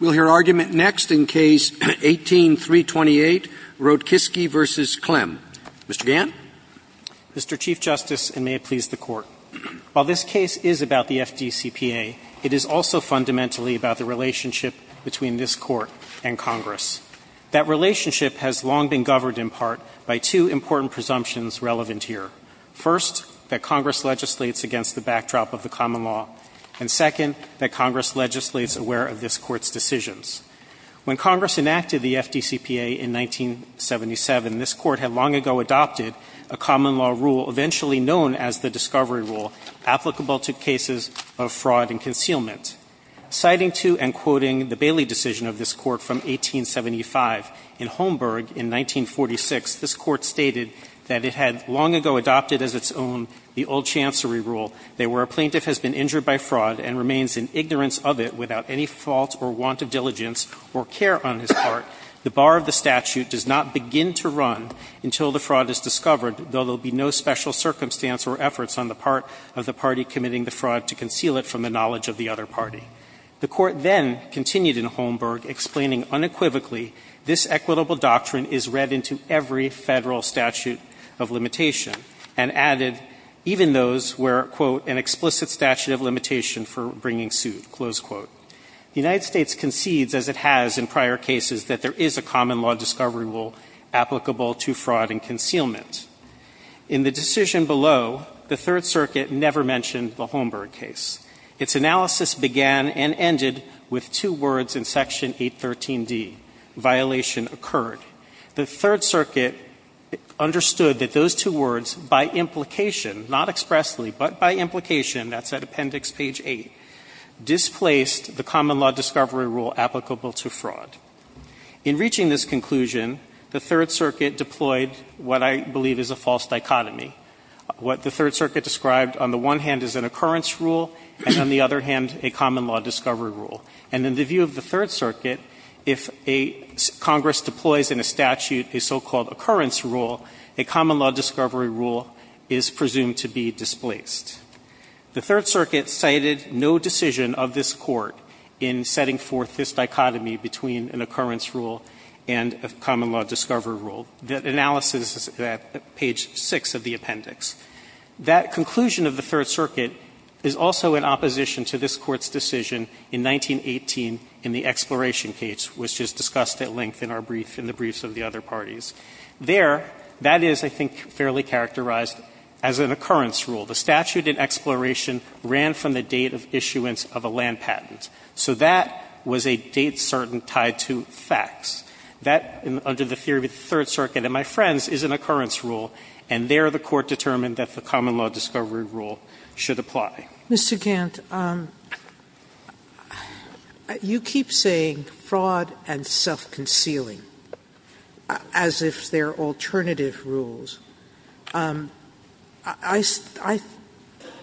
Mr. Chief Justice, and may it please the Court, while this case is about the FDCPA, it is also fundamentally about the relationship between this Court and Congress. That relationship has long been governed, in part, by two important presumptions relevant here. First, that Congress legislates against the backdrop of the common law. And second, that Congress legislates aware of this Court's decision. When Congress enacted the FDCPA in 1977, this Court had long ago adopted a common law rule eventually known as the Discovery Rule, applicable to cases of fraud and concealment. Citing to and quoting the Bailey decision of this Court from 1875, in Holmberg in 1946, this Court stated that it had long ago adopted as its own the Old Chancery Rule, that where a plaintiff has been injured by fraud and remains in ignorance of it without any fault or want of diligence or care on his part, the bar of the statute does not begin to run until the fraud is discovered, though there will be no special circumstance or efforts on the part of the party committing the fraud to conceal it from the knowledge of the other party. The Court then continued in Holmberg, explaining unequivocally this equitable doctrine is read into every Federal statute of limitation, and added even those where, quote, an explicit statute of limitation for bringing suit, close quote. The United States concedes, as it has in prior cases, that there is a common law Discovery Rule applicable to fraud and concealment. In the decision below, the Third Circuit never mentioned the Holmberg case. Its analysis began and ended with two words in Section 813d, violation occurred. The Third Circuit understood that those two words, by implication, not expressly, but by implication, that's at Appendix Page 8, displaced the common law Discovery Rule applicable to fraud. In reaching this conclusion, the Third Circuit deployed what I believe is a false dichotomy. What the Third Circuit described on the one hand is an occurrence rule, and on the other hand, a common law Discovery Rule. And in the view of the Third Circuit, if a Congress deploys in a statute a so-called occurrence rule, a common law Discovery Rule is presumed to be displaced. The Third Circuit cited no decision of this Court in setting forth this dichotomy between an occurrence rule and a common law Discovery Rule. That analysis is at Page 6 of the appendix. That conclusion of the Third Circuit is also in opposition to this Court's decision in 1918 in the Exploration case, which is discussed at length in our brief, in the briefs of the other parties. There, that is, I think, fairly characterized as an occurrence rule. The statute in Exploration ran from the date of issuance of a land patent. So that was a date certain tied to facts. That, under the theory of the Third Circuit, and my friends, is an occurrence rule, and there the Court determined that the common law Discovery Rule should Sotomayor, Mr. Gantt, you keep saying fraud and self-concealing as if they're alternative rules. I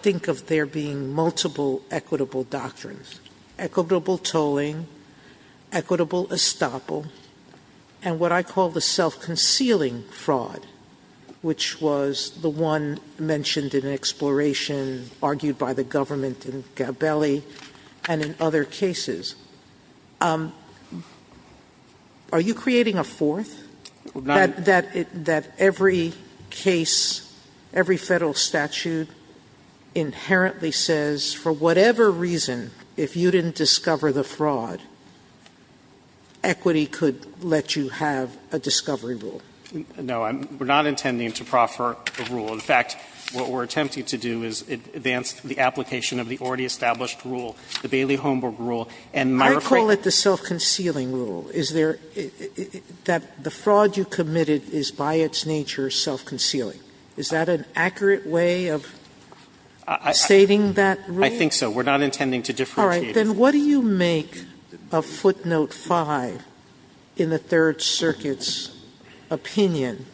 think of there being multiple equitable doctrines, equitable tolling, equitable estoppel, and what I call the self-concealing fraud, which was the one mentioned in Exploration, argued by the government in Gabelli and in other cases. Are you creating a fourth? That every case, every Federal statute inherently says, for whatever reason, if you didn't discover the fraud, equity could let you have a Discovery Rule? No. We're not intending to proffer a rule. In fact, what we're attempting to do is advance the application of the already established rule, the Bailey-Holmburg rule, and my refrain. I call it the self-concealing rule. Is there the fraud you committed is by its nature self-concealing. Is that an accurate way of stating that rule? I think so. We're not intending to differentiate. All right. Then what do you make of footnote five in the Third Circuit's opinion?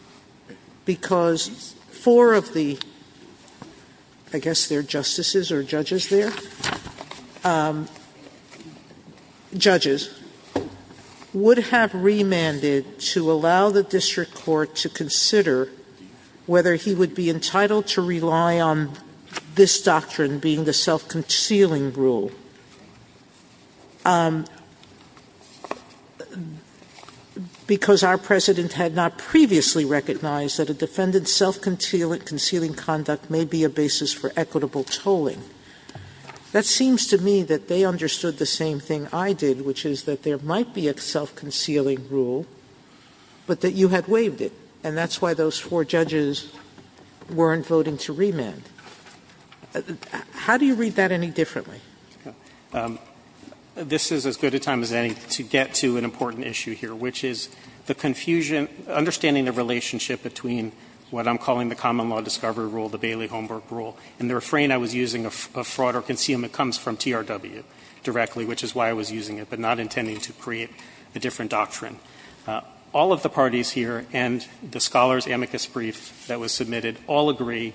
Because four of the, I guess they're justices or judges there, judges, would have remanded to allow the district court to consider whether he would be entitled to rely on this doctrine being the self-concealing rule. Because our President had not previously recognized that a defendant's self-concealing conduct may be a basis for equitable tolling. That seems to me that they understood the same thing I did, which is that there might be a self-concealing rule, but that you had waived it. And that's why those four judges weren't voting to remand. How do you read that any differently? This is as good a time as any to get to an important issue here, which is the confusion – understanding the relationship between what I'm calling the common law discovery rule, the Bailey-Holmburg rule. And the refrain I was using of fraud or concealment comes from TRW directly, which is why I was using it, but not intending to create a different doctrine. All of the parties here and the scholars amicus brief that was submitted all agree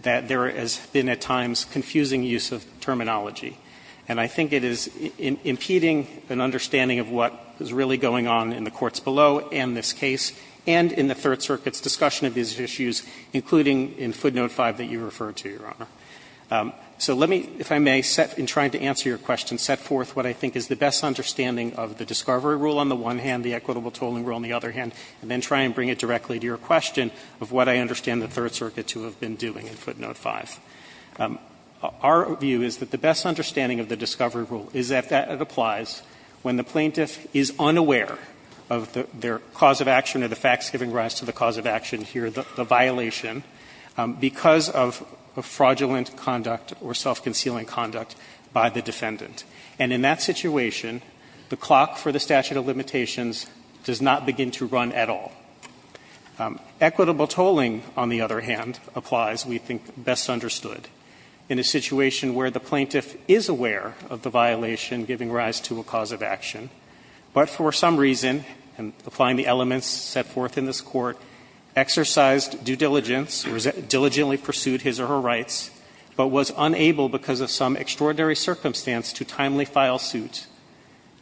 that there has been at times confusing use of terminology. And I think it is impeding an understanding of what is really going on in the courts below in this case and in the Third Circuit's discussion of these issues, including in footnote 5 that you referred to, Your Honor. So let me, if I may, in trying to answer your question, set forth what I think is the best understanding of the discovery rule on the one hand, the equitable tolling rule on the other hand, and then try and bring it directly to your question of what I understand the Third Circuit to have been doing in footnote 5. Our view is that the best understanding of the discovery rule is that it applies when the plaintiff is unaware of their cause of action or the facts giving rise to the cause of action here, the violation, because of fraudulent conduct or self-concealing conduct by the defendant. And in that situation, the clock for the statute of limitations does not begin to run at all. Equitable tolling, on the other hand, applies, we think, best understood in a situation where the plaintiff is aware of the violation giving rise to a cause of action, but for some reason, applying the elements set forth in this Court, exercised due diligence or diligently pursued his or her rights, but was unable because of some extraordinary circumstance to timely file suit.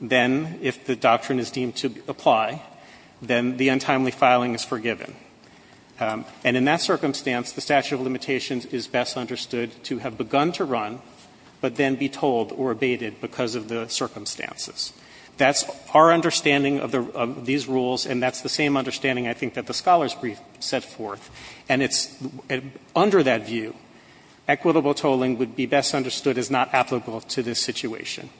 Then, if the doctrine is deemed to apply, then the untimely filing is forgiven. And in that circumstance, the statute of limitations is best understood to have begun to run, but then be tolled or abated because of the circumstances. That's our understanding of these rules, and that's the same understanding, I think, that the scholars set forth. And it's under that view, equitable tolling would be best understood as not applicable to this situation.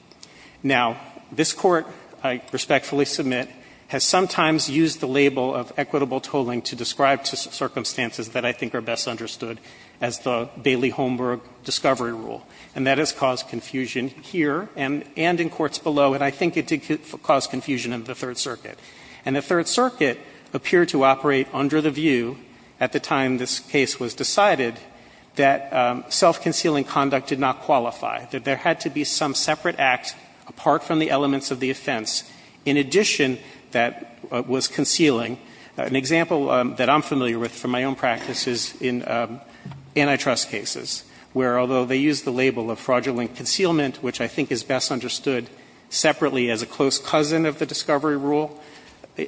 Now, this Court, I respectfully submit, has sometimes used the label of equitable tolling to describe circumstances that I think are best understood as the Bailey-Holmberg discovery rule. And that has caused confusion here and in courts below, and I think it did cause confusion in the Third Circuit. And the Third Circuit appeared to operate under the view, at the time this case was decided, that self-concealing conduct did not qualify. That there had to be some separate act apart from the elements of the offense in addition that was concealing. An example that I'm familiar with from my own practice is in antitrust cases, where although they use the label of fraudulent concealment, which I think is best understood,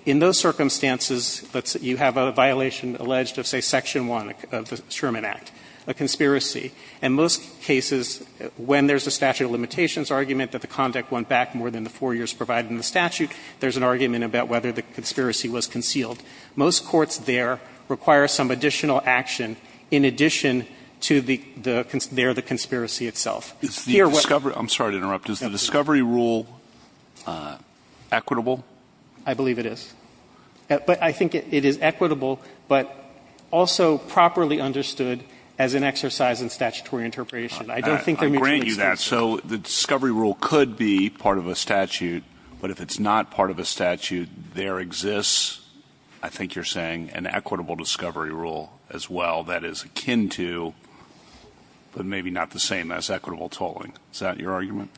in those circumstances, you have a violation alleged of, say, section 1 of the Sherman Act, a conspiracy. In most cases, when there's a statute of limitations argument that the conduct went back more than the four years provided in the statute, there's an argument about whether the conspiracy was concealed. Most courts there require some additional action in addition to the conspiracy itself. Here, what they're saying is that the discovery rule is equitable. I believe it is. But I think it is equitable, but also properly understood as an exercise in statutory interpretation. I don't think they're mutually exclusive. I'll grant you that. So the discovery rule could be part of a statute, but if it's not part of a statute, there exists, I think you're saying, an equitable discovery rule as well that is akin to, but maybe not the same as, equitable tolling. Is that your argument?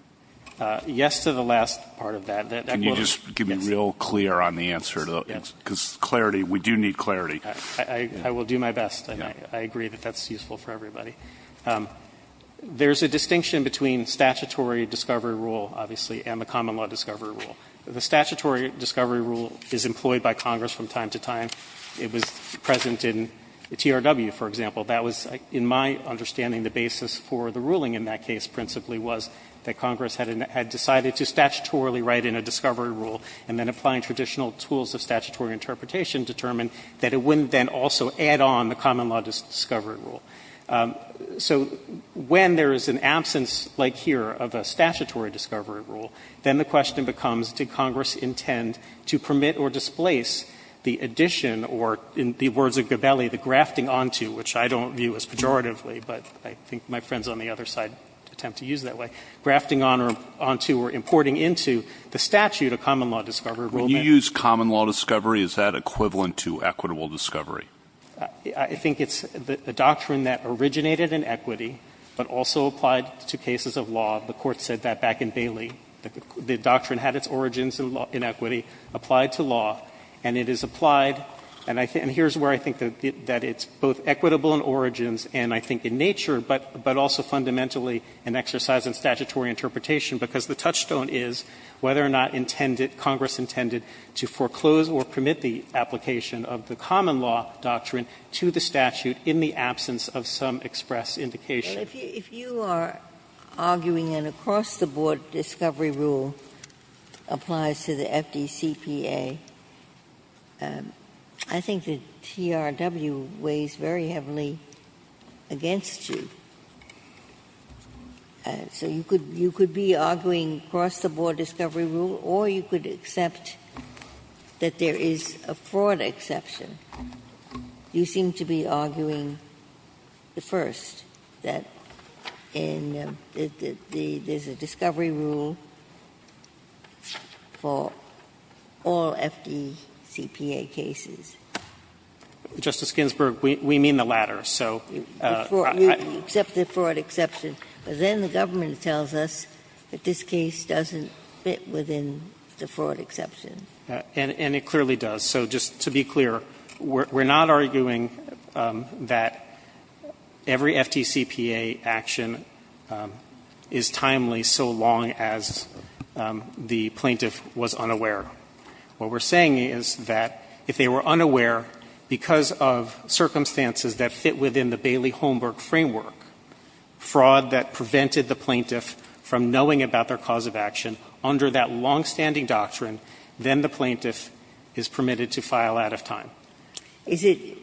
Yes to the last part of that. Can you just be real clear on the answer? Because clarity, we do need clarity. I will do my best. I agree that that's useful for everybody. There's a distinction between statutory discovery rule, obviously, and the common law discovery rule. The statutory discovery rule is employed by Congress from time to time. It was present in TRW, for example. That was, in my understanding, the basis for the ruling in that case principally was that Congress had decided to statutorily write in a discovery rule and then applying traditional tools of statutory interpretation determined that it wouldn't then also add on the common law discovery rule. So when there is an absence, like here, of a statutory discovery rule, then the question becomes, did Congress intend to permit or displace the addition or, in the words of Gabelli, the grafting onto, which I don't view as pejoratively, but I think my friends on the other side attempt to use it that way, grafting onto or importing into the statute of common law discovery rule. When you use common law discovery, is that equivalent to equitable discovery? I think it's the doctrine that originated in equity but also applied to cases of law. The Court said that back in Bailey. The doctrine had its origins in equity, applied to law, and it is applied. And here's where I think that it's both equitable in origins and I think in nature, but also fundamentally an exercise in statutory interpretation, because the touchstone is whether or not intended, Congress intended to foreclose or permit the application of the common law doctrine to the statute in the absence of some express indication. Ginsburg. If you are arguing an across-the-board discovery rule applies to the FDCPA, I think the TRW weighs very heavily against you. So you could be arguing cross-the-board discovery rule, or you could accept that there is a fraud exception. You seem to be arguing the first, that there's a discovery rule for all FDCPA cases. Justice Ginsburg, we mean the latter, so. You accept the fraud exception. But then the government tells us that this case doesn't fit within the fraud exception. And it clearly does. So just to be clear, we're not arguing that every FDCPA action is timely so long as the plaintiff was unaware. What we're saying is that if they were unaware because of circumstances that fit within the Bailey-Holmberg framework, fraud that prevented the plaintiff from knowing about their cause of action under that longstanding doctrine, then the plaintiff is permitted to file out of time. Ginsburg.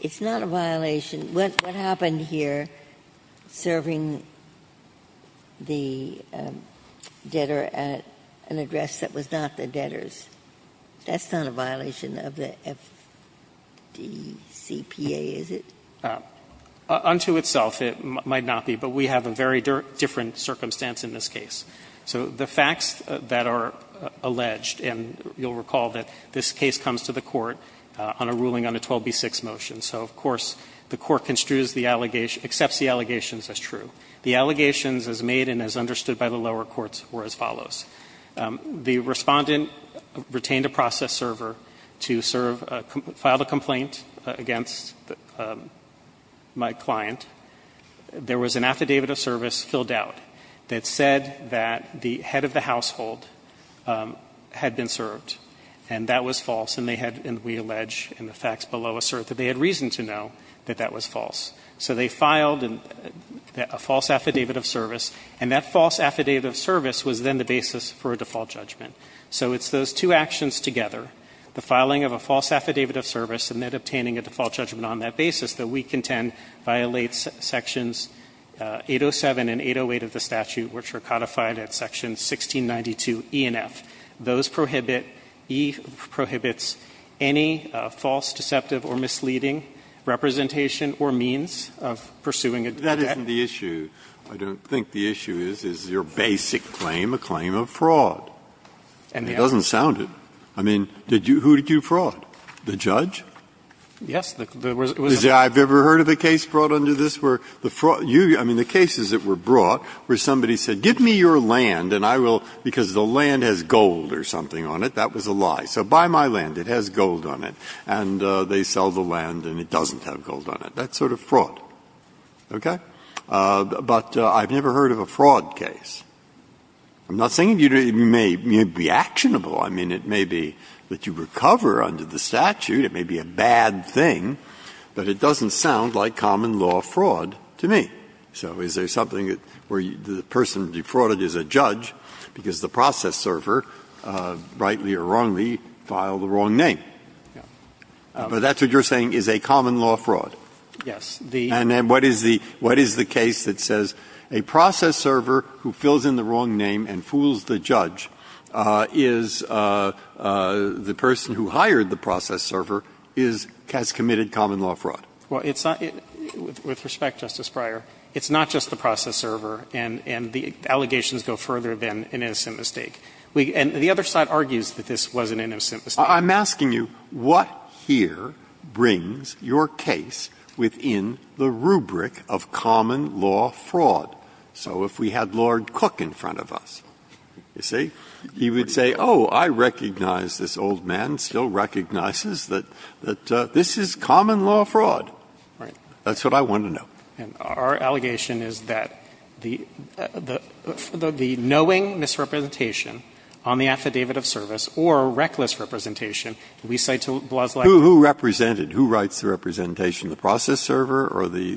It's not a violation. What happened here, serving the debtor at an address that was not the debtor's? That's not a violation of the FDCPA, is it? Unto itself, it might not be. But we have a very different circumstance in this case. So the facts that are alleged, and you'll recall that this case comes to the Court on a ruling on a 12b-6 motion. So, of course, the Court construes the allegation, accepts the allegations as true. The allegations as made and as understood by the lower courts were as follows. The respondent retained a process server to serve, filed a complaint against my client. There was an affidavit of service filled out that said that the head of the household had been served, and that was false. And we allege in the facts below assert that they had reason to know that that was false. So they filed a false affidavit of service, and that false affidavit of service was then the basis for a default judgment. So it's those two actions together, the filing of a false affidavit of service and then obtaining a default judgment on that basis that we contend violates Sections 807 and 808 of the statute, which are codified at Section 1692 E and F. Those prohibit, E prohibits any false, deceptive or misleading representation or means of pursuing a debt. Breyer, that isn't the issue. I don't think the issue is, is your basic claim a claim of fraud? And it doesn't sound it. I mean, did you, who did you fraud? The judge? Yes. I've never heard of a case brought under this where the fraud, you, I mean, the cases that were brought where somebody said, give me your land and I will, because the land has gold or something on it, that was a lie. So buy my land. It has gold on it. And they sell the land and it doesn't have gold on it. That's sort of fraud. Okay? But I've never heard of a fraud case. I'm not saying it may be actionable. I mean, it may be that you recover under the statute. It may be a bad thing. But it doesn't sound like common law fraud to me. So is there something where the person defrauded is a judge because the process server, rightly or wrongly, filed the wrong name? But that's what you're saying is a common law fraud. Yes. And then what is the case that says a process server who fills in the wrong name and fools the judge is the person who hired the process server has committed common law fraud? Well, it's not – with respect, Justice Breyer, it's not just the process server and the allegations go further than an innocent mistake. And the other side argues that this was an innocent mistake. I'm asking you what here brings your case within the rubric of common law fraud? So if we had Lord Cook in front of us, you see, he would say, oh, I recognize this old man still recognizes that this is common law fraud. Right. That's what I want to know. And our allegation is that the knowing misrepresentation on the affidavit of service or reckless representation, we cite to Blaslack. Who represented? Who writes the representation? The process server or the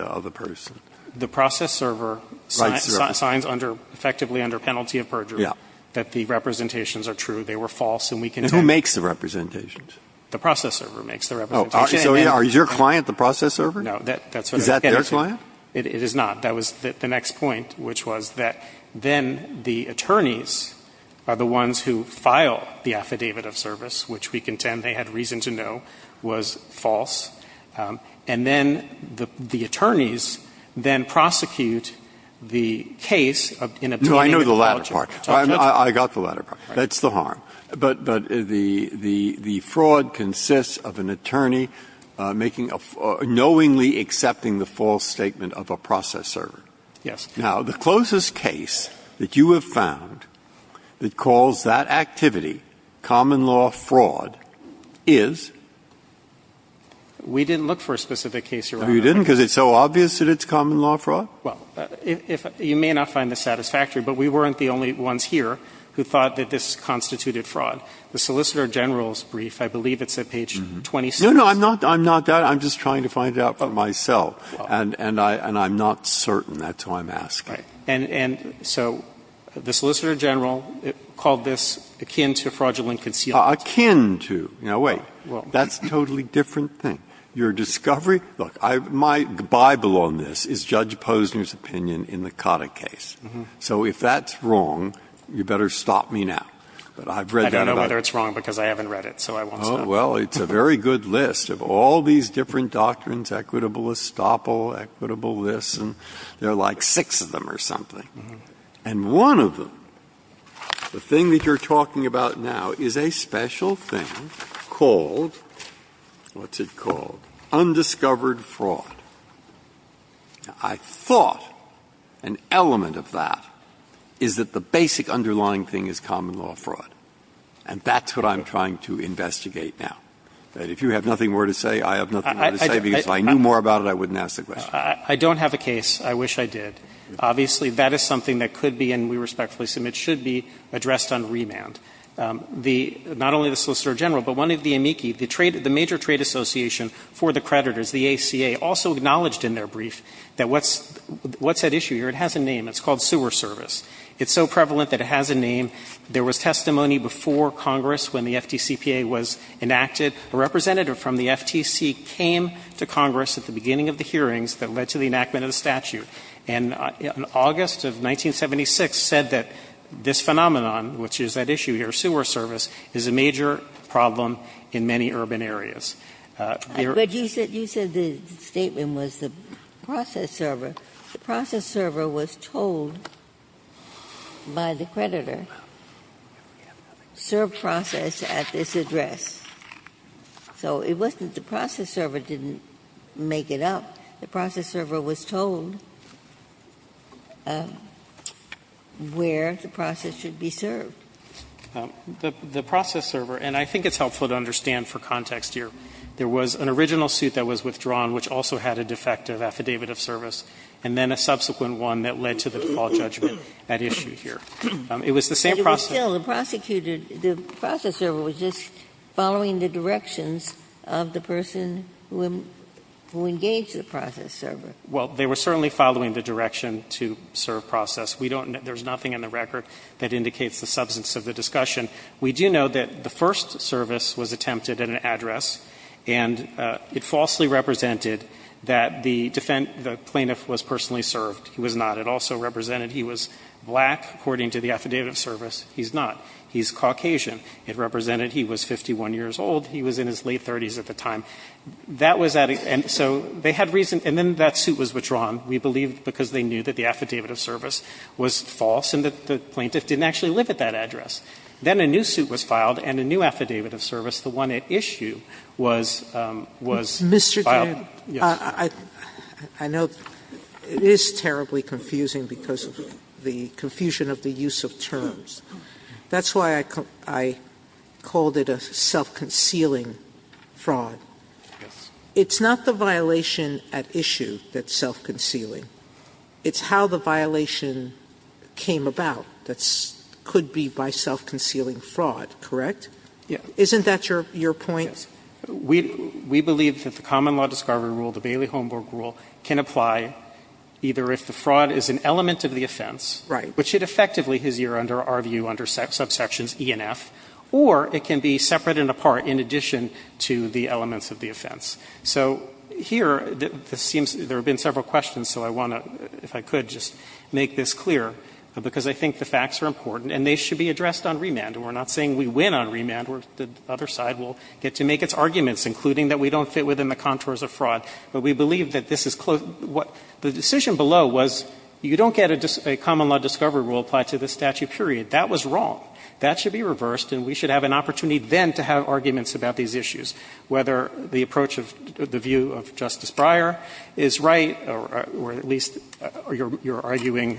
other person? The process server signs effectively under penalty of perjury that the representations are true, they were false. And who makes the representations? The process server makes the representations. So is your client the process server? No. Is that their client? It is not. That was the next point, which was that then the attorneys are the ones who file the affidavit of service, which we contend they had reason to know was false. And then the attorneys then prosecute the case in obtaining the apology. No, I know the latter part. I got the latter part. That's the harm. But the fraud consists of an attorney knowingly accepting the false statement of a process server. Yes. Now, the closest case that you have found that calls that activity common law fraud is? We didn't look for a specific case. You didn't? Because it's so obvious that it's common law fraud? Well, you may not find this satisfactory, but we weren't the only ones here who thought that this constituted fraud. The Solicitor General's brief, I believe it's at page 26. No, no. I'm not that. I'm just trying to find out for myself. And I'm not certain. That's why I'm asking. Right. And so the Solicitor General called this akin to fraudulent concealment. Akin to. Now, wait. That's a totally different thing. Your discovery? Look, my Bible on this is Judge Posner's opinion in the Cotta case. So if that's wrong, you better stop me now. But I've read that. I don't know whether it's wrong because I haven't read it. So I won't stop you. Oh, well, it's a very good list of all these different doctrines, equitable estoppel, equitable this, and there are like six of them or something. And one of them, the thing that you're talking about now, is a special thing called, what's it called? Undiscovered fraud. Now, I thought an element of that is that the basic underlying thing is common law fraud. And that's what I'm trying to investigate now. That if you have nothing more to say, I have nothing more to say, because if I knew more about it, I wouldn't ask the question. I don't have a case. I wish I did. Obviously, that is something that could be, and we respectfully assume it should be, addressed on remand. Not only the Solicitor General, but one of the amici, the major trade association for the creditors, the ACA, also acknowledged in their brief that what's that issue here? It has a name. It's called sewer service. It's so prevalent that it has a name. There was testimony before Congress when the FTCPA was enacted. A representative from the FTC came to Congress at the beginning of the hearings that led to the enactment of the statute. And in August of 1976 said that this phenomenon, which is that issue here, sewer service, is a major problem in many urban areas. But you said the statement was the process server. The process server was told by the creditor, serve process at this address. So it wasn't the process server didn't make it up. The process server was told where the process should be served. The process server, and I think it's helpful to understand for context here, there was an original suit that was withdrawn, which also had a defective affidavit of service, and then a subsequent one that led to the default judgment at issue here. It was the same process. Ginsburg. But still, the prosecutor, the process server was just following the directions of the person who engaged the process server. Well, they were certainly following the direction to serve process. We don't know. There's nothing in the record that indicates the substance of the discussion. We do know that the first service was attempted at an address, and it falsely represented that the plaintiff was personally served. He was not. It also represented he was black, according to the affidavit of service. He's not. He's Caucasian. It represented he was 51 years old. He was in his late 30s at the time. That was at a end. So they had reason. And then that suit was withdrawn, we believe, because they knew that the affidavit of service was false and that the plaintiff didn't actually live at that address. Then a new suit was filed and a new affidavit of service, the one at issue, was filed. Sotomayor, I know it is terribly confusing because of the confusion of the use of terms. That's why I called it a self-concealing fraud. It's not the violation at issue that's self-concealing. It's how the violation came about that could be by self-concealing fraud, correct? Yeah. Isn't that your point? Yes. We believe that the common law discovery rule, the Bailey-Holmburg rule, can apply either if the fraud is an element of the offense, which it effectively is, under our view, under subsections E and F, or it can be separate and apart in addition to the elements of the offense. So here, it seems there have been several questions, so I want to, if I could, just make this clear, because I think the facts are important and they should be addressed on remand. We're not saying we win on remand or the other side will get to make its arguments, including that we don't fit within the contours of fraud. But we believe that this is close. The decision below was you don't get a common law discovery rule applied to the statute, period. That was wrong. That should be reversed and we should have an opportunity then to have arguments about these issues, whether the approach of the view of Justice Breyer is right or at least your arguing,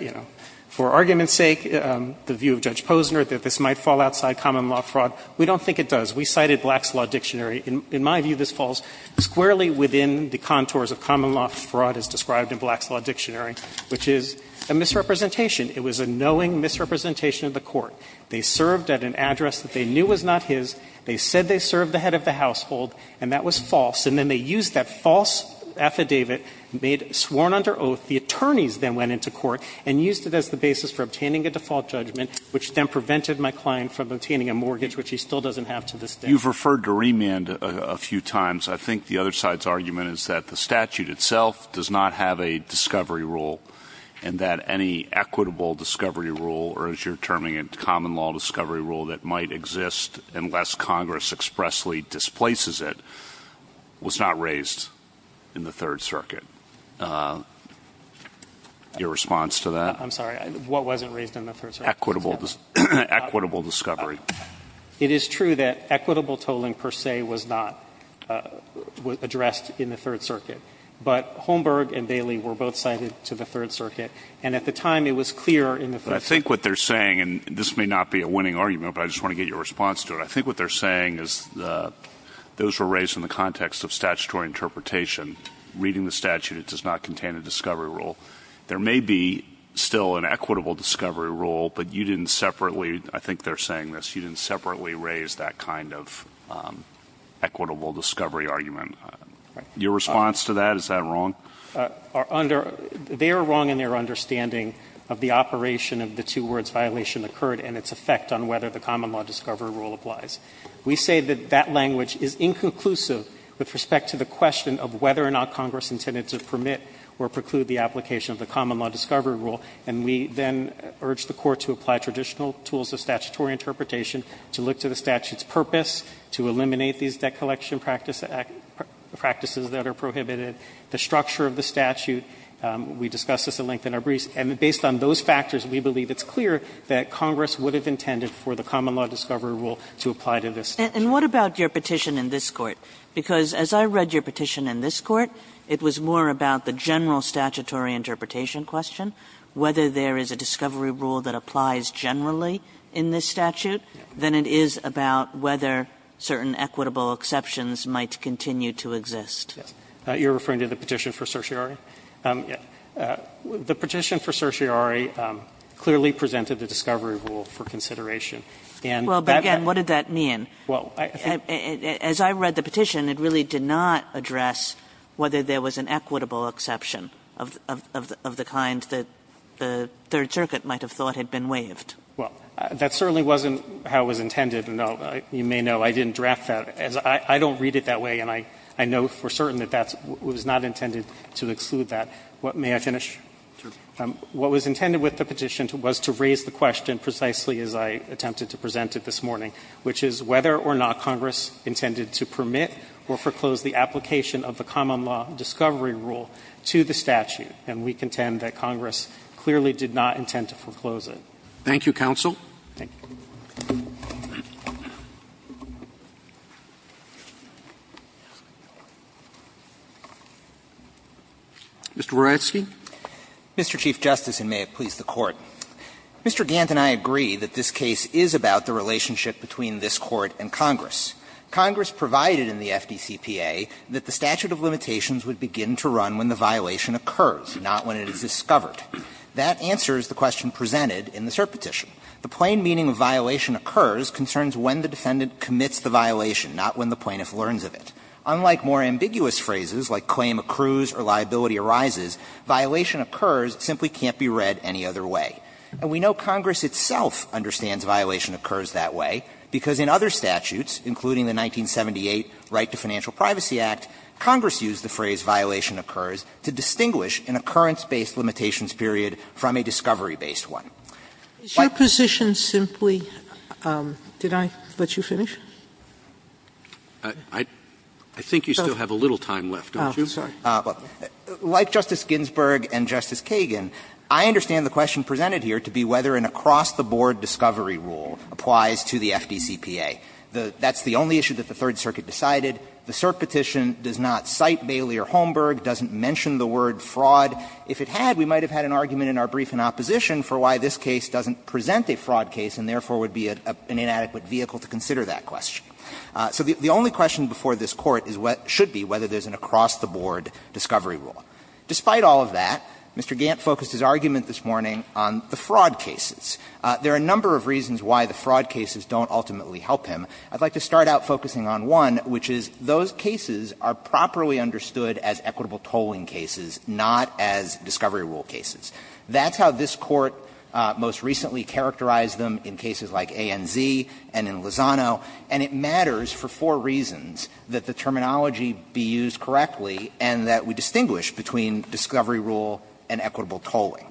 you know, for argument's sake, the view of Judge Posner that this might fall outside common law fraud. We don't think it does. We cited Black's Law Dictionary. In my view, this falls squarely within the contours of common law fraud as described in Black's Law Dictionary, which is a misrepresentation. It was a knowing misrepresentation of the Court. They served at an address that they knew was not his. They said they served the head of the household, and that was false. And then they used that false affidavit made sworn under oath. The attorneys then went into court and used it as the basis for obtaining a default judgment, which then prevented my client from obtaining a mortgage, which he still doesn't have to this day. You've referred to remand a few times. I think the other side's argument is that the statute itself does not have a discovery rule and that any equitable discovery rule, or as you're terming it, common law discovery rule that might exist unless Congress expressly displaces it, was not raised in the Third Circuit. Your response to that? I'm sorry. What wasn't raised in the Third Circuit? Equitable discovery. It is true that equitable tolling per se was not addressed in the Third Circuit. But Holmberg and Bailey were both cited to the Third Circuit, and at the time it was clear in the Third Circuit. I think what they're saying, and this may not be a winning argument, but I just want to get your response to it, I think what they're saying is those were raised in the context of statutory interpretation. Reading the statute, it does not contain a discovery rule. There may be still an equitable discovery rule, but you didn't separately, I think they're saying this, you didn't separately raise that kind of equitable discovery argument. Your response to that? Is that wrong? They are wrong in their understanding of the operation of the two words violation occurred and its effect on whether the common law discovery rule applies. We say that that language is inconclusive with respect to the question of whether or not Congress intended to permit or preclude the application of the common law discovery rule, and we then urge the Court to apply traditional tools of statutory interpretation, to look to the statute's purpose, to eliminate these debt collection practices that are prohibited, the structure of the statute. We discussed this at length in our briefs. And based on those factors, we believe it's clear that Congress would have intended for the common law discovery rule to apply to this statute. And what about your petition in this Court? Because as I read your petition in this Court, it was more about the general statutory interpretation question, whether there is a discovery rule that applies generally in this statute, than it is about whether certain equitable exceptions might continue to exist. Yes. You are referring to the petition for certiorari? Yes. The petition for certiorari clearly presented the discovery rule for consideration. Well, but again, what did that mean? As I read the petition, it really did not address whether there was an equitable exception of the kind that the Third Circuit might have thought had been waived. Well, that certainly wasn't how it was intended, and you may know I didn't draft that. I don't read it that way, and I know for certain that that was not intended to exclude that. May I finish? Sure. What was intended with the petition was to raise the question precisely as I attempted to present it this morning, which is whether or not Congress intended to permit or foreclose the application of the common law discovery rule to the statute. And we contend that Congress clearly did not intend to foreclose it. Thank you, counsel. Thank you. Mr. Waratsky. Mr. Chief Justice, and may it please the Court. Mr. Gant and I agree that this case is about the relationship between this Court and Congress. Congress provided in the FDCPA that the statute of limitations would begin to run when the violation occurs, not when it is discovered. That answers the question presented in the cert petition. The plain meaning of violation occurs concerns when the defendant commits the violation, not when the plaintiff learns of it. Unlike more ambiguous phrases like claim accrues or liability arises, violation occurs simply can't be read any other way. And we know Congress itself understands violation occurs that way, because in other statutes, including the 1978 Right to Financial Privacy Act, Congress used the phrase violation occurs to distinguish an occurrence-based limitations period from a discovery-based one. Like Justice Ginsburg and Justice Kagan, I understand the question presented here to be whether an across-the-board discovery rule applies to the FDCPA. That's the only issue that the Third Circuit decided. The cert petition does not cite Bailey or Holmberg, doesn't mention the word fraud. If it had, we might have had an argument in our brief in opposition for why this case doesn't present a fraud case and therefore would be an inadequate vehicle to consider that question. So the only question before this Court is what should be, whether there's an across-the-board discovery rule. Despite all of that, Mr. Gantt focused his argument this morning on the fraud cases. There are a number of reasons why the fraud cases don't ultimately help him. I'd like to start out focusing on one, which is those cases are properly understood as equitable tolling cases, not as discovery rule cases. That's how this Court most recently characterized them in cases like ANZ and in Lozano. And it matters for four reasons that the terminology be used correctly and that we distinguish between discovery rule and equitable tolling.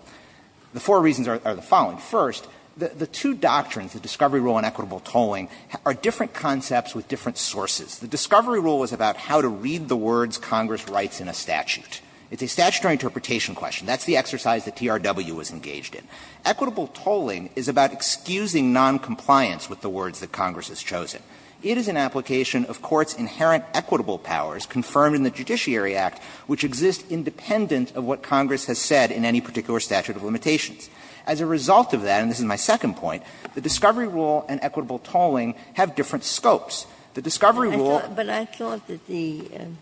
The four reasons are the following. First, the two doctrines, the discovery rule and equitable tolling, are different concepts with different sources. The discovery rule is about how to read the words Congress writes in a statute. It's a statutory interpretation question. That's the exercise that TRW was engaged in. Equitable tolling is about excusing noncompliance with the words that Congress has chosen. It is an application of courts' inherent equitable powers confirmed in the Judiciary Act, which exist independent of what Congress has said in any particular statute of limitations. As a result of that, and this is my second point, the discovery rule and equitable tolling have different scopes. The discovery rule was not equitable tolling.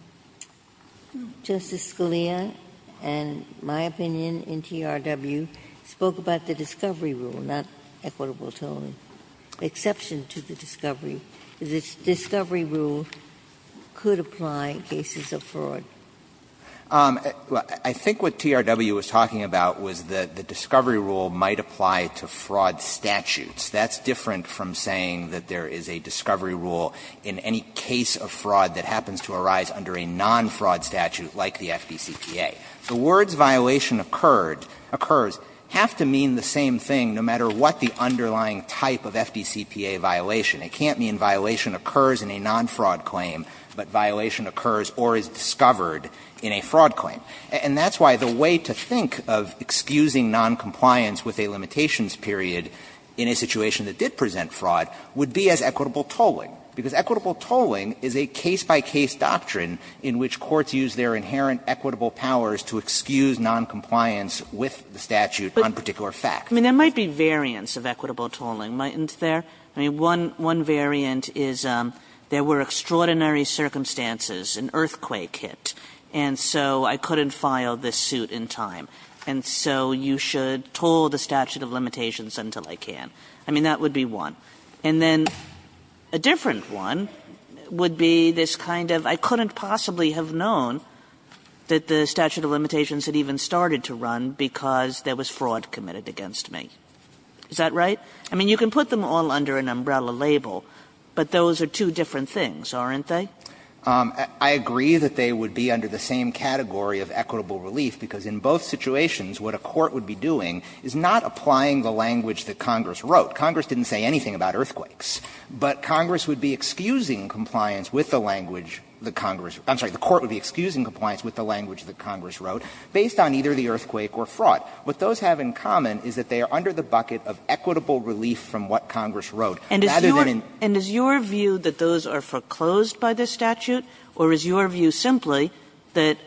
Ginsburg, but I thought that the Justice Scalia, in my opinion, in TRW, spoke about the discovery rule, not equitable tolling, the exception to the discovery. The discovery rule could apply in cases of fraud. I think what TRW was talking about was that the discovery rule might apply to fraud statutes. That's different from saying that there is a discovery rule in any case of fraud that happens to arise under a non-fraud statute like the FDCPA. The words violation occurred, occurs, have to mean the same thing no matter what the underlying type of FDCPA violation. It can't mean violation occurs in a non-fraud claim, but violation occurs or is discovered in a fraud claim. And that's why the way to think of excusing noncompliance with a limitations period in a situation that did present fraud would be as equitable tolling, because equitable tolling is a case-by-case doctrine in which courts use their inherent equitable powers to excuse noncompliance with the statute on particular facts. Kagan. I mean, there might be variants of equitable tolling, mightn't there? I mean, one variant is there were extraordinary circumstances, an earthquake hit, and so I couldn't file this suit in time, and so you should toll the statute of limitations until I can. I mean, that would be one. And then a different one would be this kind of I couldn't possibly have known that the statute of limitations had even started to run because there was fraud committed against me. Is that right? I mean, you can put them all under an umbrella label, but those are two different things, aren't they? I agree that they would be under the same category of equitable relief, because in both situations what a court would be doing is not applying the language that Congress wrote. Congress didn't say anything about earthquakes, but Congress would be excusing compliance with the language that Congress wrote. I'm sorry. The court would be excusing compliance with the language that Congress wrote based on either the earthquake or fraud. What those have in common is that they are under the bucket of equitable relief from what Congress wrote, rather than in. And is your view that those are foreclosed by this statute, or is your view simply that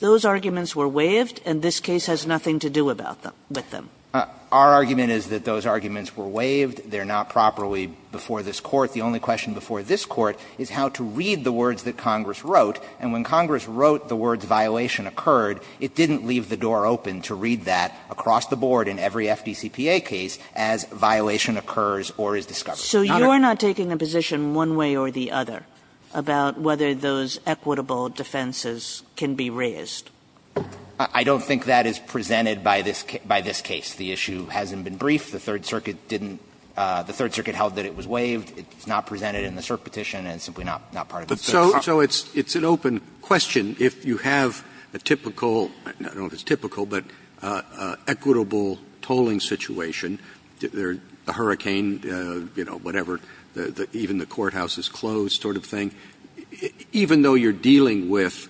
those arguments were waived and this case has nothing to do about them, with them? Our argument is that those arguments were waived. They're not properly before this Court. The only question before this Court is how to read the words that Congress wrote. And when Congress wrote the words violation occurred, it didn't leave the door open to read that across the board in every FDCPA case as violation occurs or is discovered. Kagan. So you're not taking a position one way or the other about whether those equitable defenses can be raised? I don't think that is presented by this case. The issue hasn't been briefed. The Third Circuit didn't – the Third Circuit held that it was waived. It's not presented in the cert petition and simply not part of this case. So it's an open question if you have a typical, I don't know if it's typical, but equitable tolling situation, the hurricane, you know, whatever, even the courthouse's closed sort of thing, even though you're dealing with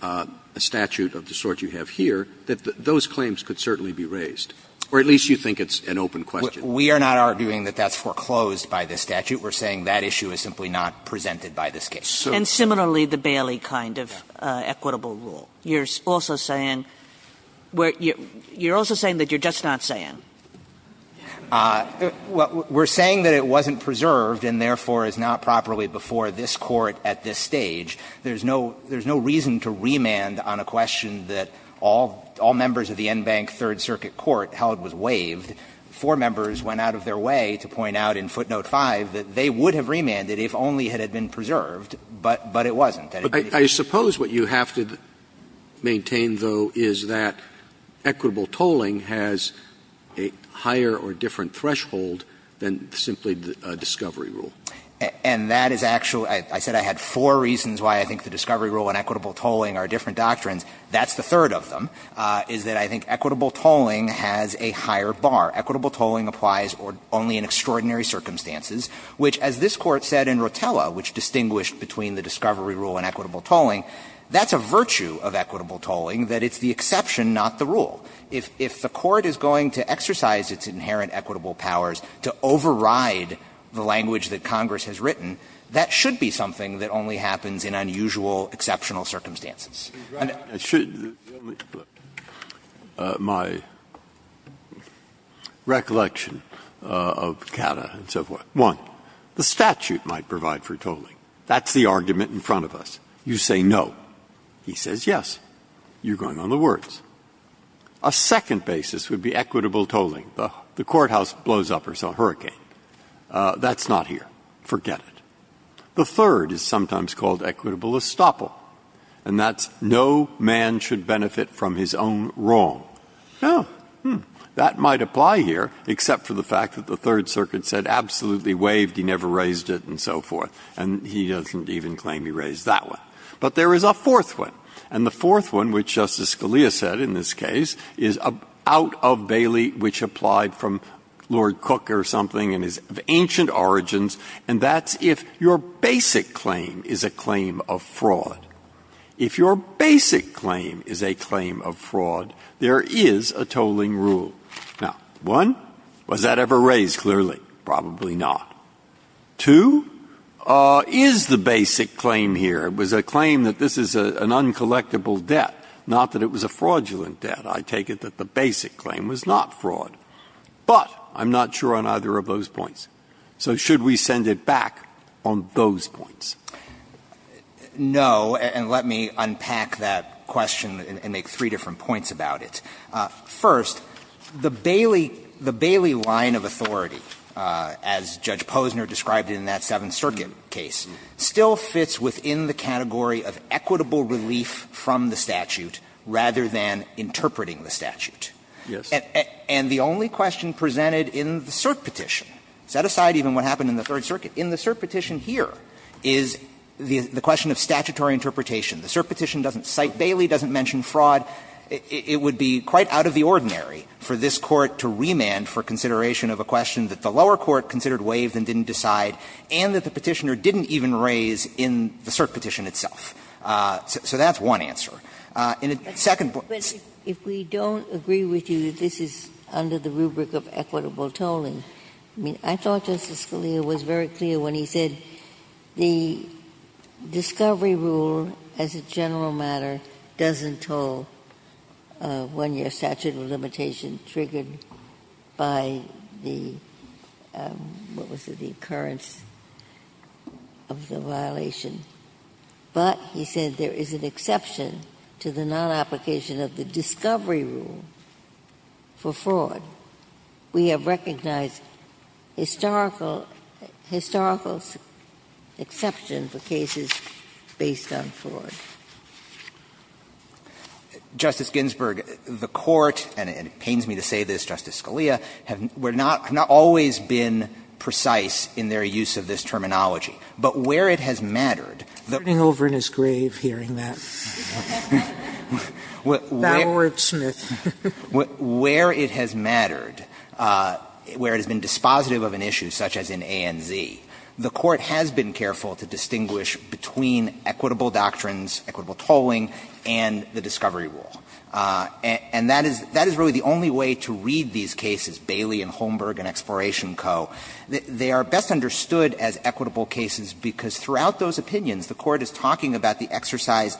a statute of the sort you have here, that those claims could certainly be raised, or at least you think it's an open question. We are not arguing that that's foreclosed by this statute. We're saying that issue is simply not presented by this case. And similarly, the Bailey kind of equitable rule. You're also saying – you're also saying that you're just not saying? We're saying that it wasn't preserved and therefore is not properly before this Court at this stage. There's no reason to remand on a question that all members of the Enbank Third Circuit Court held was waived. Four members went out of their way to point out in footnote 5 that they would have said it was preserved, but it wasn't. But I suppose what you have to maintain, though, is that equitable tolling has a higher or different threshold than simply a discovery rule. And that is actually – I said I had four reasons why I think the discovery rule and equitable tolling are different doctrines. That's the third of them, is that I think equitable tolling has a higher bar. Equitable tolling applies only in extraordinary circumstances, which, as this Court said in Rotella, which distinguished between the discovery rule and equitable tolling, that's a virtue of equitable tolling, that it's the exception, not the rule. If the Court is going to exercise its inherent equitable powers to override the language that Congress has written, that should be something that only happens in unusual, exceptional circumstances. Breyer, my recollection of Cata and so forth, one, the statute might provide for tolling. That's the argument in front of us. You say no. He says yes. You're going on the words. A second basis would be equitable tolling. The courthouse blows up or it's a hurricane. That's not here. Forget it. The third is sometimes called equitable estoppel, and that's no man should benefit from his own wrong. Oh, that might apply here, except for the fact that the Third Circuit said absolutely waived, he never raised it, and so forth. And he doesn't even claim he raised that one. But there is a fourth one. And the fourth one, which Justice Scalia said in this case, is out of Bailey, which applied from Lord Cook or something, and is of ancient origins. And that's if your basic claim is a claim of fraud. If your basic claim is a claim of fraud, there is a tolling rule. Now, one, was that ever raised clearly? Probably not. Two, is the basic claim here, was a claim that this is an uncollectible debt, not that it was a fraudulent debt. I take it that the basic claim was not fraud. But I'm not sure on either of those points. So should we send it back on those points? No, and let me unpack that question and make three different points about it. First, the Bailey line of authority, as Judge Posner described it in that Seventh Circuit case, still fits within the category of equitable relief from the statute, rather than interpreting the statute. And the only question presented in the cert petition. Set aside even what happened in the Third Circuit, in the cert petition here is the question of statutory interpretation. The cert petition doesn't cite Bailey, doesn't mention fraud. It would be quite out of the ordinary for this Court to remand for consideration of a question that the lower court considered waived and didn't decide, and that the Petitioner didn't even raise in the cert petition itself. So that's one answer. And the second point is that if we don't agree with you that this is under the rubric of equitable tolling, I mean, I thought Justice Scalia was very clear when he said the discovery rule, as a general matter, doesn't toll when your statute of limitation triggered by the, what was it, the occurrence of the violation. But he said there is an exception to the non-application of the discovery rule for fraud. We have recognized historical, historical exception for cases based on fraud. Justice Ginsburg, the Court, and it pains me to say this, Justice Scalia, have not always been precise in their use of this terminology. But where it has mattered, the Court has not always been precise in their use of this use of this terminology. But where it has mattered, where it has been dispositive of an issue such as in A&Z, the Court has been careful to distinguish between equitable doctrines, equitable tolling, and the discovery rule. And that is really the only way to read these cases, Bailey and Holmberg and Exploration Co. They are best understood as equitable cases because throughout those opinions the Court is talking about the exercise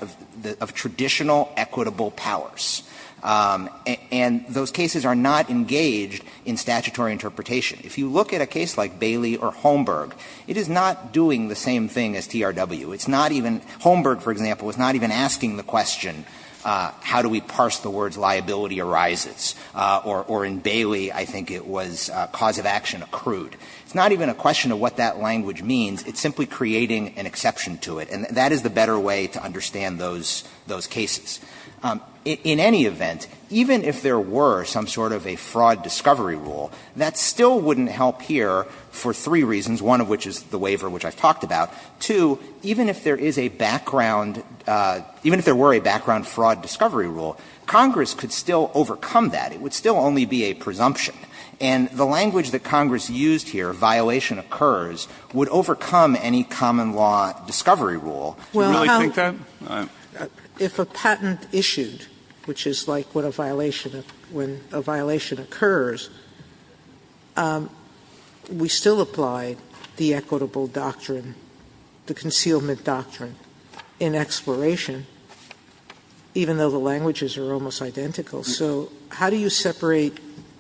of traditional equitable powers. And those cases are not engaged in statutory interpretation. If you look at a case like Bailey or Holmberg, it is not doing the same thing as TRW. It's not even, Holmberg, for example, is not even asking the question, how do we parse the words liability arises? Or in Bailey, I think it was cause of action accrued. It's not even a question of what that language means. It's simply creating an exception to it. And that is the better way to understand those cases. In any event, even if there were some sort of a fraud discovery rule, that still wouldn't help here for three reasons, one of which is the waiver, which I've talked about. Two, even if there is a background – even if there were a background fraud discovery rule, Congress could still overcome that. It would still only be a presumption. And the language that Congress used here, violation occurs, would overcome any common law discovery rule. Do you really think that? Sotomayor, if a patent issued, which is like when a violation occurs, we still apply the equitable doctrine, the concealment doctrine in Exploration, even though the languages are almost identical. So how do you separate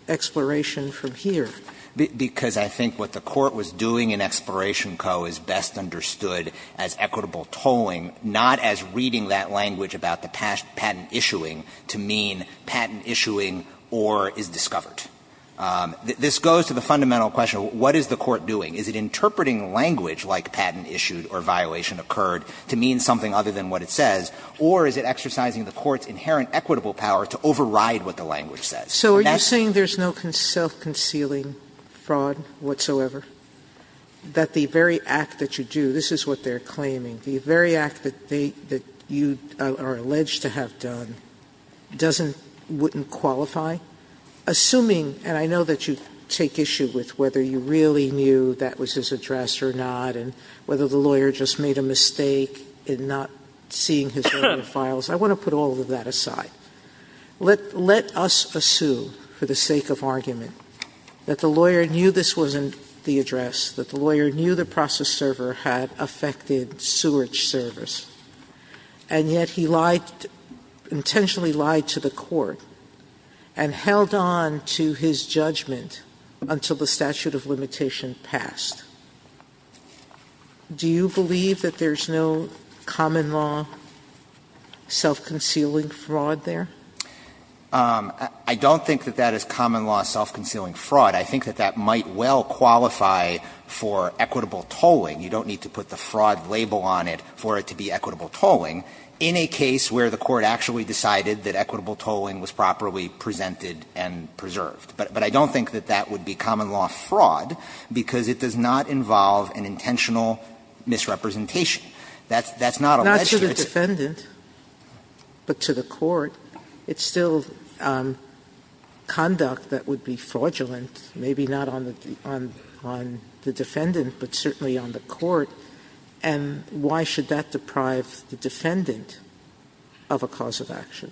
Exploration from here? Because I think what the Court was doing in Exploration Co. is best understood as equitable tolling, not as reading that language about the patent issuing to mean patent issuing or is discovered. This goes to the fundamental question, what is the Court doing? Is it interpreting language like patent issued or violation occurred to mean something other than what it says, or is it exercising the Court's inherent equitable power to override what the language says? Sotomayor, are you saying there's no self-concealing fraud whatsoever? That the very act that you do – this is what they're claiming – the very act that you are alleged to have done doesn't – wouldn't qualify? Assuming – and I know that you take issue with whether you really knew that was his address or not, and whether the lawyer just made a mistake in not seeing his own files. I want to put all of that aside. Let us assume, for the sake of argument, that the lawyer knew this wasn't the address, that the lawyer knew the process server had affected sewage service, and yet he lied – intentionally lied to the Court and held on to his judgment until the statute of limitation passed. Do you believe that there's no common law self-concealing fraud there? I don't think that that is common law self-concealing fraud. I think that that might well qualify for equitable tolling. You don't need to put the fraud label on it for it to be equitable tolling in a case where the Court actually decided that equitable tolling was properly presented and preserved. But I don't think that that would be common law fraud, because it does not involve an intentional misrepresentation. That's not alleged to the defendant. But to the Court, it's still conduct that would be fraudulent, maybe not on the defendant, but certainly on the Court. And why should that deprive the defendant of a cause of action?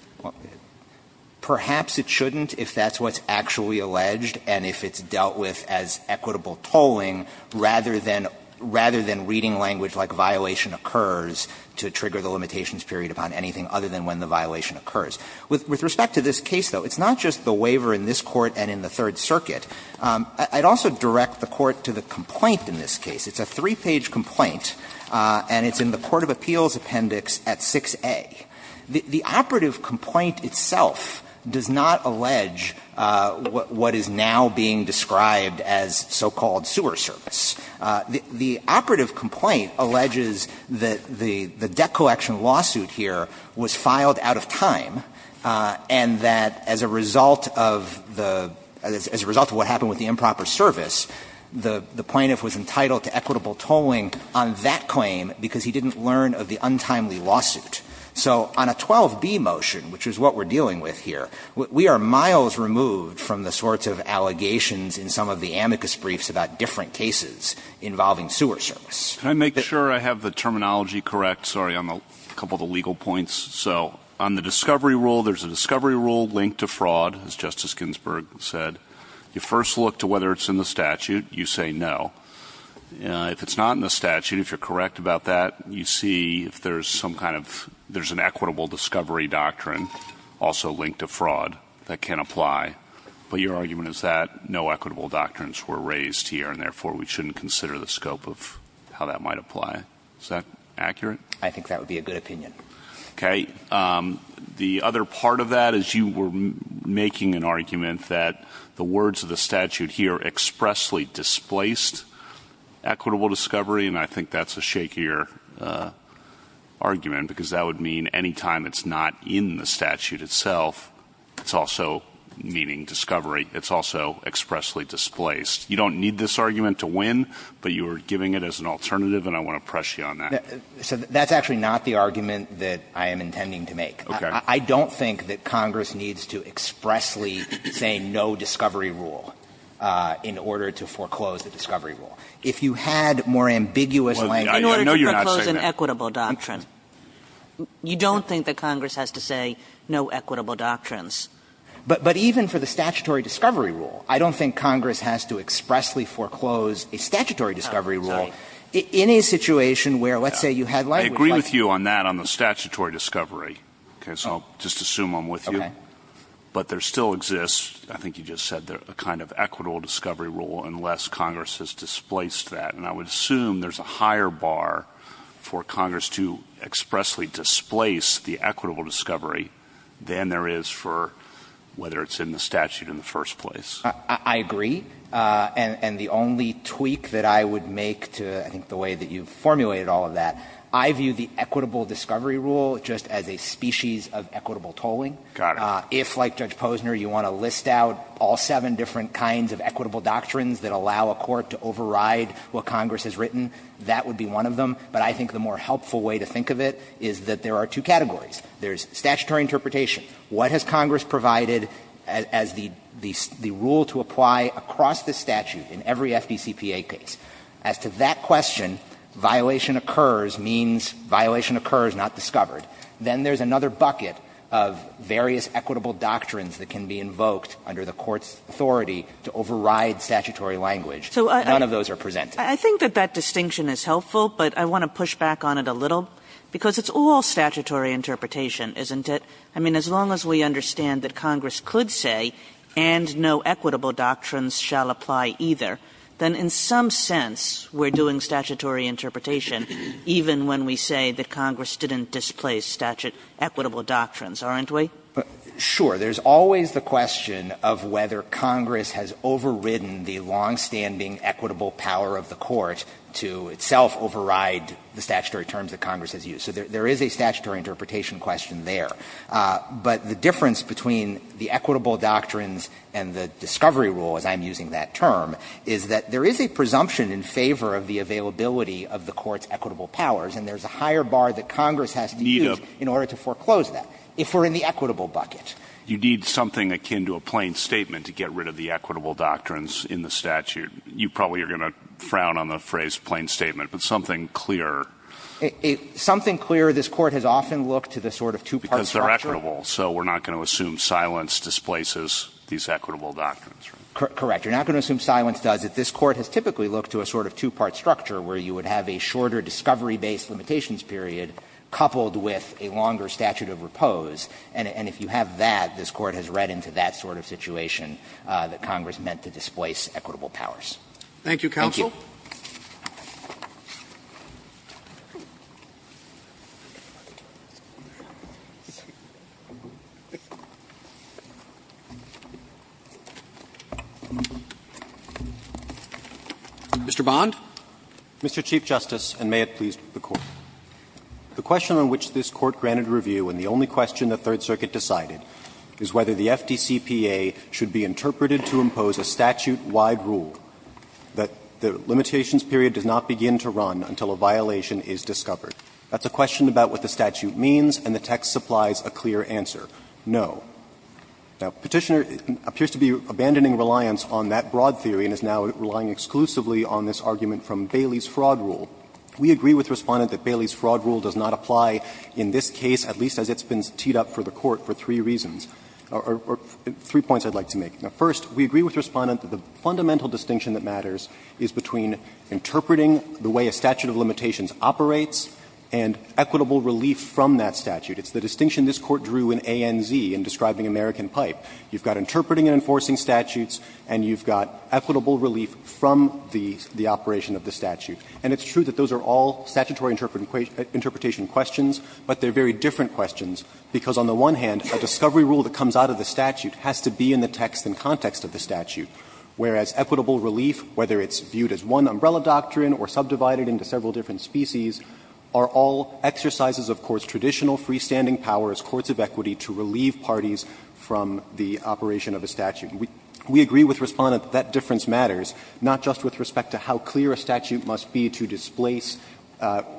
Perhaps it shouldn't if that's what's actually alleged and if it's dealt with as equitable tolling, rather than – rather than reading language like violation occurs to trigger the limitations period upon anything other than when the violation occurs. With respect to this case, though, it's not just the waiver in this Court and in the Third Circuit. I'd also direct the Court to the complaint in this case. It's a three-page complaint, and it's in the Court of Appeals Appendix at 6A. The operative complaint itself does not allege what is now being described as so-called sewer service. The operative complaint alleges that the debt collection lawsuit here was filed out of time and that as a result of the – as a result of what happened with the improper service, the plaintiff was entitled to equitable tolling on that claim because he didn't learn of the untimely lawsuit. So on a 12B motion, which is what we're dealing with here, we are miles removed from the sorts of allegations in some of the amicus briefs about different cases involving sewer service. Can I make sure I have the terminology correct? Sorry, on a couple of the legal points. So on the discovery rule, there's a discovery rule linked to fraud, as Justice Ginsburg said. You first look to whether it's in the statute. You say no. If it's not in the statute, if you're correct about that, you see if there's some kind of – there's an equitable discovery doctrine also linked to fraud that can apply, but your argument is that no equitable doctrines were raised here and therefore we shouldn't consider the scope of how that might apply. Is that accurate? I think that would be a good opinion. Okay. The other part of that is you were making an argument that the words of the statute here expressly displaced equitable discovery, and I think that's a shakier argument, because that would mean any time it's not in the statute itself, it's also meaning discovery, it's also expressly displaced. You don't need this argument to win, but you were giving it as an alternative, and I want to press you on that. So that's actually not the argument that I am intending to make. Okay. I don't think that Congress needs to expressly say no discovery rule in order to foreclose the discovery rule. If you had more ambiguous language. I know you're not saying that. In order to foreclose an equitable doctrine. You don't think that Congress has to say no equitable doctrines. But even for the statutory discovery rule, I don't think Congress has to expressly foreclose a statutory discovery rule in a situation where, let's say, you had language like that. I agree with you on that, on the statutory discovery. Okay. So I'll just assume I'm with you. Okay. But there still exists, I think you just said, a kind of equitable discovery rule, unless Congress has displaced that. And I would assume there's a higher bar for Congress to expressly displace the equitable discovery than there is for whether it's in the statute in the first place. I agree. And the only tweak that I would make to, I think, the way that you formulated all of that, I view the equitable discovery rule just as a species of equitable tolling. Got it. If, like Judge Posner, you want to list out all seven different kinds of equitable doctrines that allow a court to override what Congress has written, that would be one of them. But I think the more helpful way to think of it is that there are two categories. There's statutory interpretation. What has Congress provided as the rule to apply across the statute in every FDCPA case? As to that question, violation occurs means violation occurs, not discovered. Then there's another bucket of various equitable doctrines that can be invoked under the court's authority to override statutory language. None of those are presented. I think that that distinction is helpful, but I want to push back on it a little, because it's all statutory interpretation, isn't it? I mean, as long as we understand that Congress could say, and no equitable doctrines shall apply either, then in some sense we're doing statutory interpretation even when we say that Congress didn't displace equitable doctrines, aren't we? Sure. There's always the question of whether Congress has overridden the longstanding equitable power of the court to itself override the statutory terms that Congress has used. So there is a statutory interpretation question there. But the difference between the equitable doctrines and the discovery rule, as I'm using that term, is that there is a presumption in favor of the availability of the court's equitable powers, and there's a higher bar that Congress has to use in order to foreclose that, if we're in the equitable bucket. You need something akin to a plain statement to get rid of the equitable doctrines in the statute. You probably are going to frown on the phrase plain statement, but something clearer. Something clearer. This Court has often looked to the sort of two-part structure. Because they're equitable, so we're not going to assume silence displaces these equitable doctrines, right? Correct. You're not going to assume silence does. But this Court has typically looked to a sort of two-part structure, where you would have a shorter discovery-based limitations period, coupled with a longer statute of repose. And if you have that, this Court has read into that sort of situation that Congress meant to displace equitable powers. Thank you, counsel. Mr. Bond. Mr. Chief Justice, and may it please the Court. The question on which this Court granted review, and the only question the Third Circuit decided, is whether the FDCPA should be interpreted to impose a statute-wide rule that the limitations period does not begin to run until a violation is discovered. That's a question about what the statute means, and the text supplies a clear answer, no. Now, Petitioner appears to be abandoning reliance on that broad theory and is now relying exclusively on this argument from Bailey's fraud rule. We agree with Respondent that Bailey's fraud rule does not apply in this case, at least as it's been teed up for the Court, for three reasons, or three points I'd like to make. Now, first, we agree with Respondent that the fundamental distinction that matters is between interpreting the way a statute of limitations operates and equitable relief from that statute. It's the distinction this Court drew in ANZ in describing American Pipe. You've got interpreting and enforcing statutes, and you've got equitable relief from the operation of the statute. And it's true that those are all statutory interpretation questions, but they're very different questions, because on the one hand, a discovery rule that comes out of the statute has to be in the text and context of the statute, whereas equitable relief, whether it's viewed as one umbrella doctrine or subdivided into several different species, are all exercises of courts' traditional freestanding power as courts of equity to relieve parties from the operation of a statute. We agree with Respondent that that difference matters, not just with respect to how clear a statute must be to displace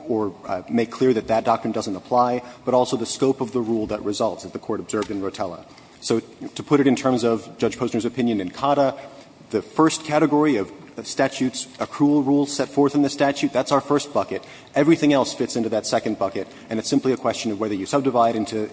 or make clear that that doctrine doesn't apply, but also the scope of the rule that results, as the Court observed in Rotella. So to put it in terms of Judge Posner's opinion in COTA, the first category of statutes, accrual rules set forth in the statute, that's our first bucket. Everything else fits into that second bucket, and it's simply a question of whether you subdivide into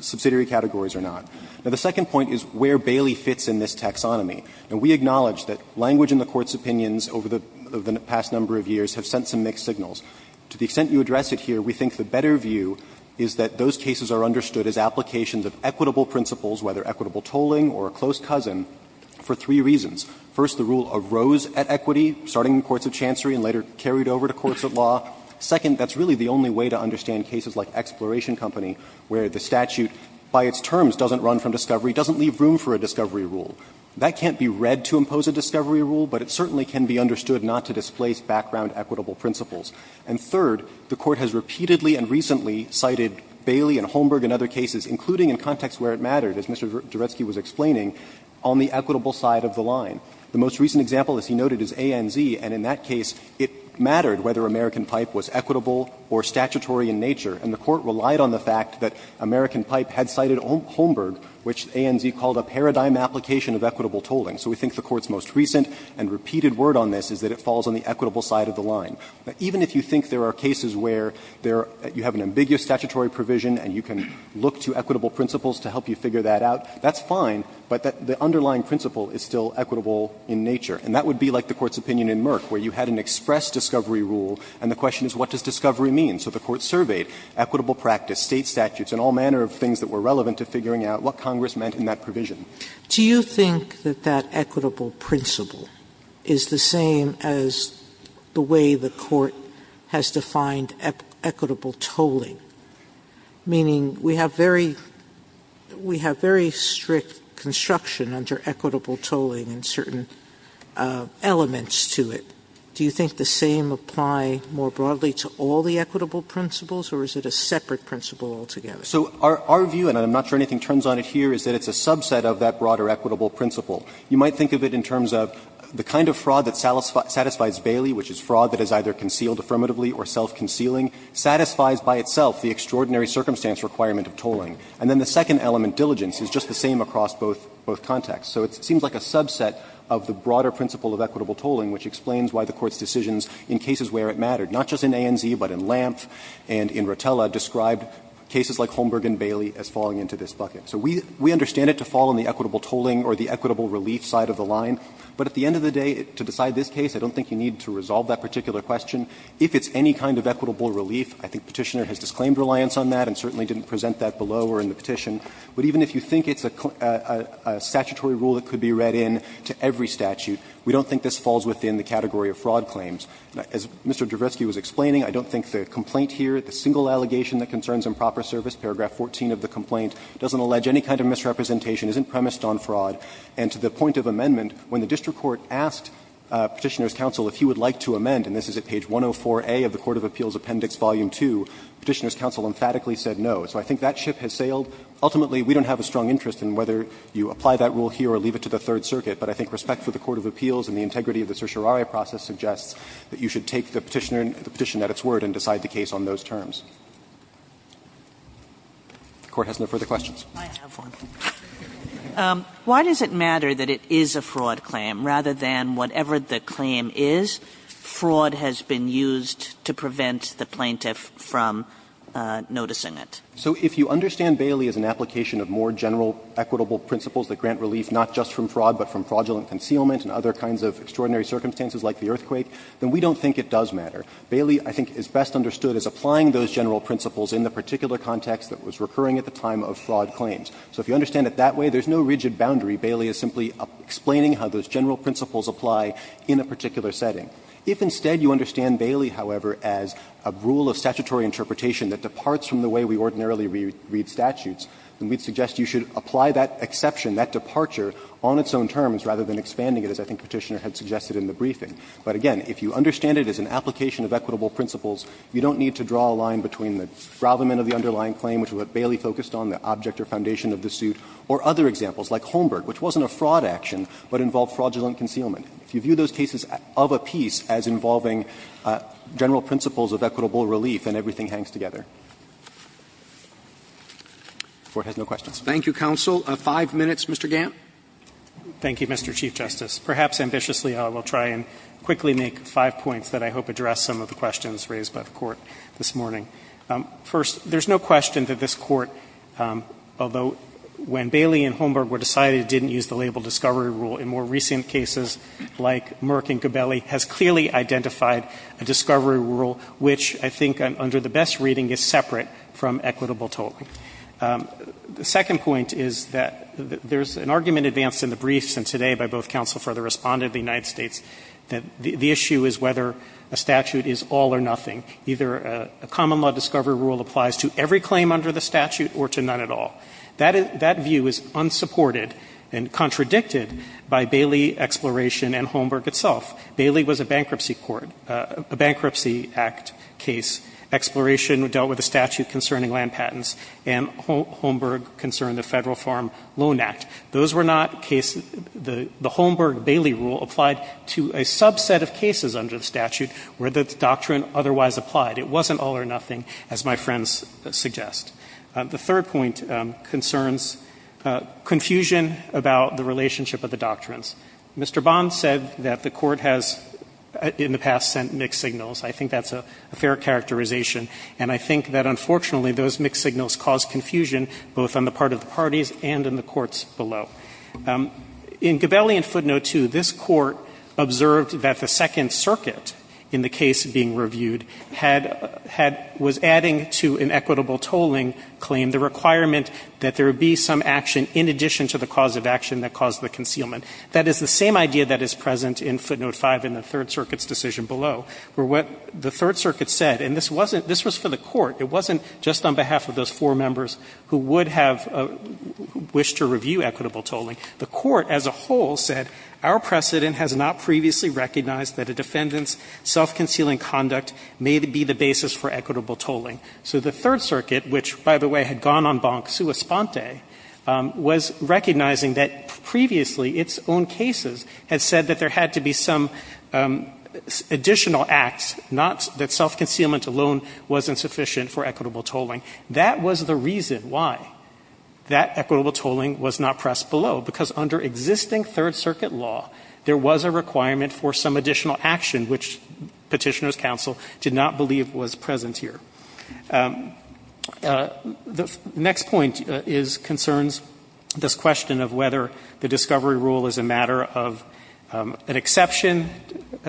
subsidiary categories or not. Now, the second point is where Bailey fits in this taxonomy. Now, we acknowledge that language in the Court's opinions over the past number of years have sent some mixed signals. To the extent you address it here, we think the better view is that those cases are understood as applications of equitable principles, whether equitable tolling or a close cousin, for three reasons. First, the rule arose at equity, starting in courts of chancery and later carried over to courts of law. Second, that's really the only way to understand cases like Exploration Company, where the statute, by its terms, doesn't run from discovery, doesn't leave room for a discovery rule. That can't be read to impose a discovery rule, but it certainly can be understood not to displace background equitable principles. And third, the Court has repeatedly and recently cited Bailey and Holmberg and other cases, including in contexts where it mattered, as Mr. Deretsky was explaining, on the equitable side of the line. The most recent example, as he noted, is ANZ, and in that case it mattered whether American Pipe was equitable or statutory in nature, and the Court relied on the fact that American Pipe had cited Holmberg, which ANZ called a paradigm application of equitable tolling. So we think the Court's most recent and repeated word on this is that it falls on the equitable side of the line. Even if you think there are cases where there are you have an ambiguous statutory provision and you can look to equitable principles to help you figure that out, that's fine, but the underlying principle is still equitable in nature. And that would be like the Court's opinion in Merck, where you had an express discovery rule and the question is what does discovery mean? So the Court surveyed equitable practice, State statutes, and all manner of things that were relevant to figuring out what Congress meant in that provision. Sotomayor, do you think that that equitable principle is the same as the way the Court has defined equitable tolling, meaning we have very strict construction under equitable tolling and certain elements to it? Do you think the same apply more broadly to all the equitable principles, or is it a separate principle altogether? So our view, and I'm not sure anything turns on it here, is that it's a subset of that broader equitable principle. You might think of it in terms of the kind of fraud that satisfies Bailey, which is fraud that is either concealed affirmatively or self-concealing, satisfies by itself the extraordinary circumstance requirement of tolling. And then the second element, diligence, is just the same across both contexts. So it seems like a subset of the broader principle of equitable tolling, which explains why the Court's decisions in cases where it mattered, not just in ANZ, but in Lampf and in Rotella, described cases like Holmberg and Bailey as falling into this bucket. So we understand it to fall in the equitable tolling or the equitable relief side of the line, but at the end of the day, to decide this case, I don't think you need to resolve that particular question. If it's any kind of equitable relief, I think Petitioner has disclaimed reliance on that and certainly didn't present that below or in the petition. But even if you think it's a statutory rule that could be read in to every statute, we don't think this falls within the category of fraud claims. As Mr. Javitsky was explaining, I don't think the complaint here, the single allegation that concerns improper service, paragraph 14 of the complaint, doesn't allege any kind of misrepresentation, isn't premised on fraud. And to the point of amendment, when the district court asked Petitioner's counsel if he would like to amend, and this is at page 104A of the Court of Appeals Appendix, volume 2, Petitioner's counsel emphatically said no. So I think that ship has sailed. Ultimately, we don't have a strong interest in whether you apply that rule here or leave it to the Third Circuit, but I think respect for the Court of Appeals and the integrity of the certiorari process suggests that you should take the Petitioner, the petition at its word, and decide the case on those terms. If the Court has no further questions. Kagan. Why does it matter that it is a fraud claim, rather than whatever the claim is, fraud has been used to prevent the plaintiff from noticing it? So if you understand Bailey as an application of more general equitable principles that grant relief not just from fraud, but from fraudulent concealment and other kinds of extraordinary circumstances like the earthquake, then we don't think it does matter. Bailey, I think, is best understood as applying those general principles in the particular context that was recurring at the time of fraud claims. So if you understand it that way, there is no rigid boundary. Bailey is simply explaining how those general principles apply in a particular setting. If instead you understand Bailey, however, as a rule of statutory interpretation that departs from the way we ordinarily read statutes, then we would suggest you should apply that exception, that departure, on its own terms rather than expanding it, as I think Petitioner had suggested in the briefing. But again, if you understand it as an application of equitable principles, you don't need to draw a line between the development of the underlying claim, which Bailey focused on, the object or foundation of the suit, or other examples like Holmberg, which wasn't a fraud action but involved fraudulent concealment. If you view those cases of a piece as involving general principles of equitable relief, then everything hangs together. If the Court has no questions. Roberts, thank you, counsel. Five minutes, Mr. Gant. Thank you, Mr. Chief Justice. Perhaps ambitiously, I will try and quickly make five points that I hope address some of the questions raised by the Court this morning. First, there is no question that this Court, although when Bailey and Holmberg were decided, didn't use the label discovery rule, in more recent cases like Merck and Gabelli, has clearly identified a discovery rule which I think under the best reading is separate from equitable tolling. The second point is that there is an argument advanced in the briefs and today by both counsel for the Respondent of the United States that the issue is whether a statute is all or nothing. Either a common law discovery rule applies to every claim under the statute or to none at all. That view is unsupported and contradicted by Bailey exploration and Holmberg itself. Bailey was a bankruptcy court, a Bankruptcy Act case. Exploration dealt with a statute concerning land patents and Holmberg concerned the Federal Farm Loan Act. Those were not cases the Holmberg-Bailey rule applied to a subset of cases under the statute where the doctrine otherwise applied. It wasn't all or nothing, as my friends suggest. The third point concerns confusion about the relationship of the doctrines. Mr. Bond said that the Court has in the past sent mixed signals. I think that's a fair characterization and I think that unfortunately those mixed signals cause confusion both on the part of the parties and in the courts below. In Gabelli and Footnote 2, this Court observed that the Second Circuit in the case being reviewed had, had, was adding to an equitable tolling claim the requirement that there be some action in addition to the cause of action that caused the concealment. That is the same idea that is present in Footnote 5 in the Third Circuit's decision below, where what the Third Circuit said, and this wasn't, this was for the Court. It wasn't just on behalf of those four members who would have wished to review equitable tolling. The Court as a whole said our precedent has not previously recognized that a defendant's self-concealing conduct may be the basis for equitable tolling. So the Third Circuit, which, by the way, had gone on bank sua sponte, was recognizing that previously its own cases had said that there had to be some additional acts, not that self-concealment alone was insufficient for equitable tolling. That was the reason why that equitable tolling was not pressed below, because under existing Third Circuit law there was a requirement for some additional action which Petitioner's counsel did not believe was present here. The next point concerns this question of whether the discovery rule is a matter of an exception,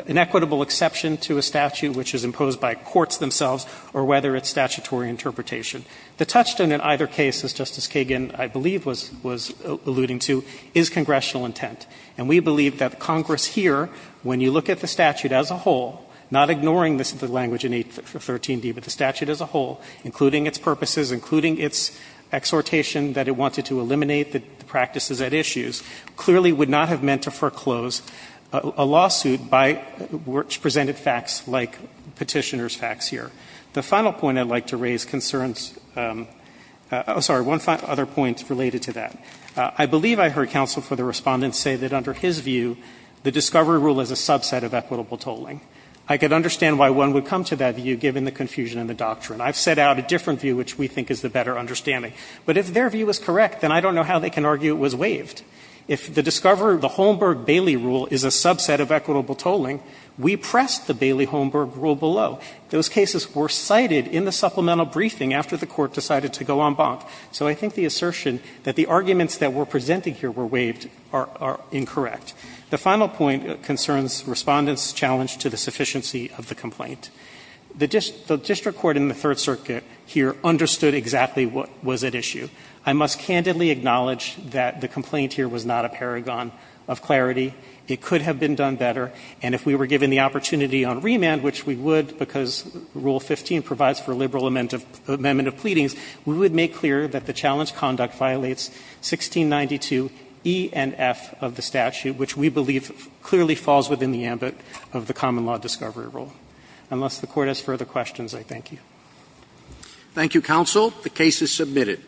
an equitable exception to a statute which is imposed by courts themselves, or whether it's statutory interpretation. The touchstone in either case, as Justice Kagan, I believe, was alluding to, is congressional intent. And we believe that Congress here, when you look at the statute as a whole, not ignoring this language in 813d, but the statute as a whole, including its purposes, including its exhortation that it wanted to eliminate the practices at issues, clearly would not have meant to foreclose a lawsuit by which presented facts like Petitioner's facts here. The final point I'd like to raise concerns – oh, sorry, one other point related to that. I believe I heard counsel for the Respondent say that under his view, the discovery rule is a subset of equitable tolling. I could understand why one would come to that view, given the confusion in the doctrine. I've set out a different view, which we think is the better understanding. But if their view is correct, then I don't know how they can argue it was waived. If the discoverer, the Holmberg-Bailey rule, is a subset of equitable tolling, we pressed the Bailey-Holmberg rule below. Those cases were cited in the supplemental briefing after the Court decided to go en banc. So I think the assertion that the arguments that were presented here were waived are incorrect. The final point concerns Respondent's challenge to the sufficiency of the complaint. The district court in the Third Circuit here understood exactly what was at issue. I must candidly acknowledge that the complaint here was not a paragon of clarity. It could have been done better. And if we were given the opportunity on remand, which we would because Rule 15 provides for a liberal amendment of pleadings, we would make clear that the challenge of the defendant's conduct violates 1692 E and F of the statute, which we believe clearly falls within the ambit of the common law discovery rule. Unless the Court has further questions, I thank you. Roberts. Thank you, counsel. The case is submitted.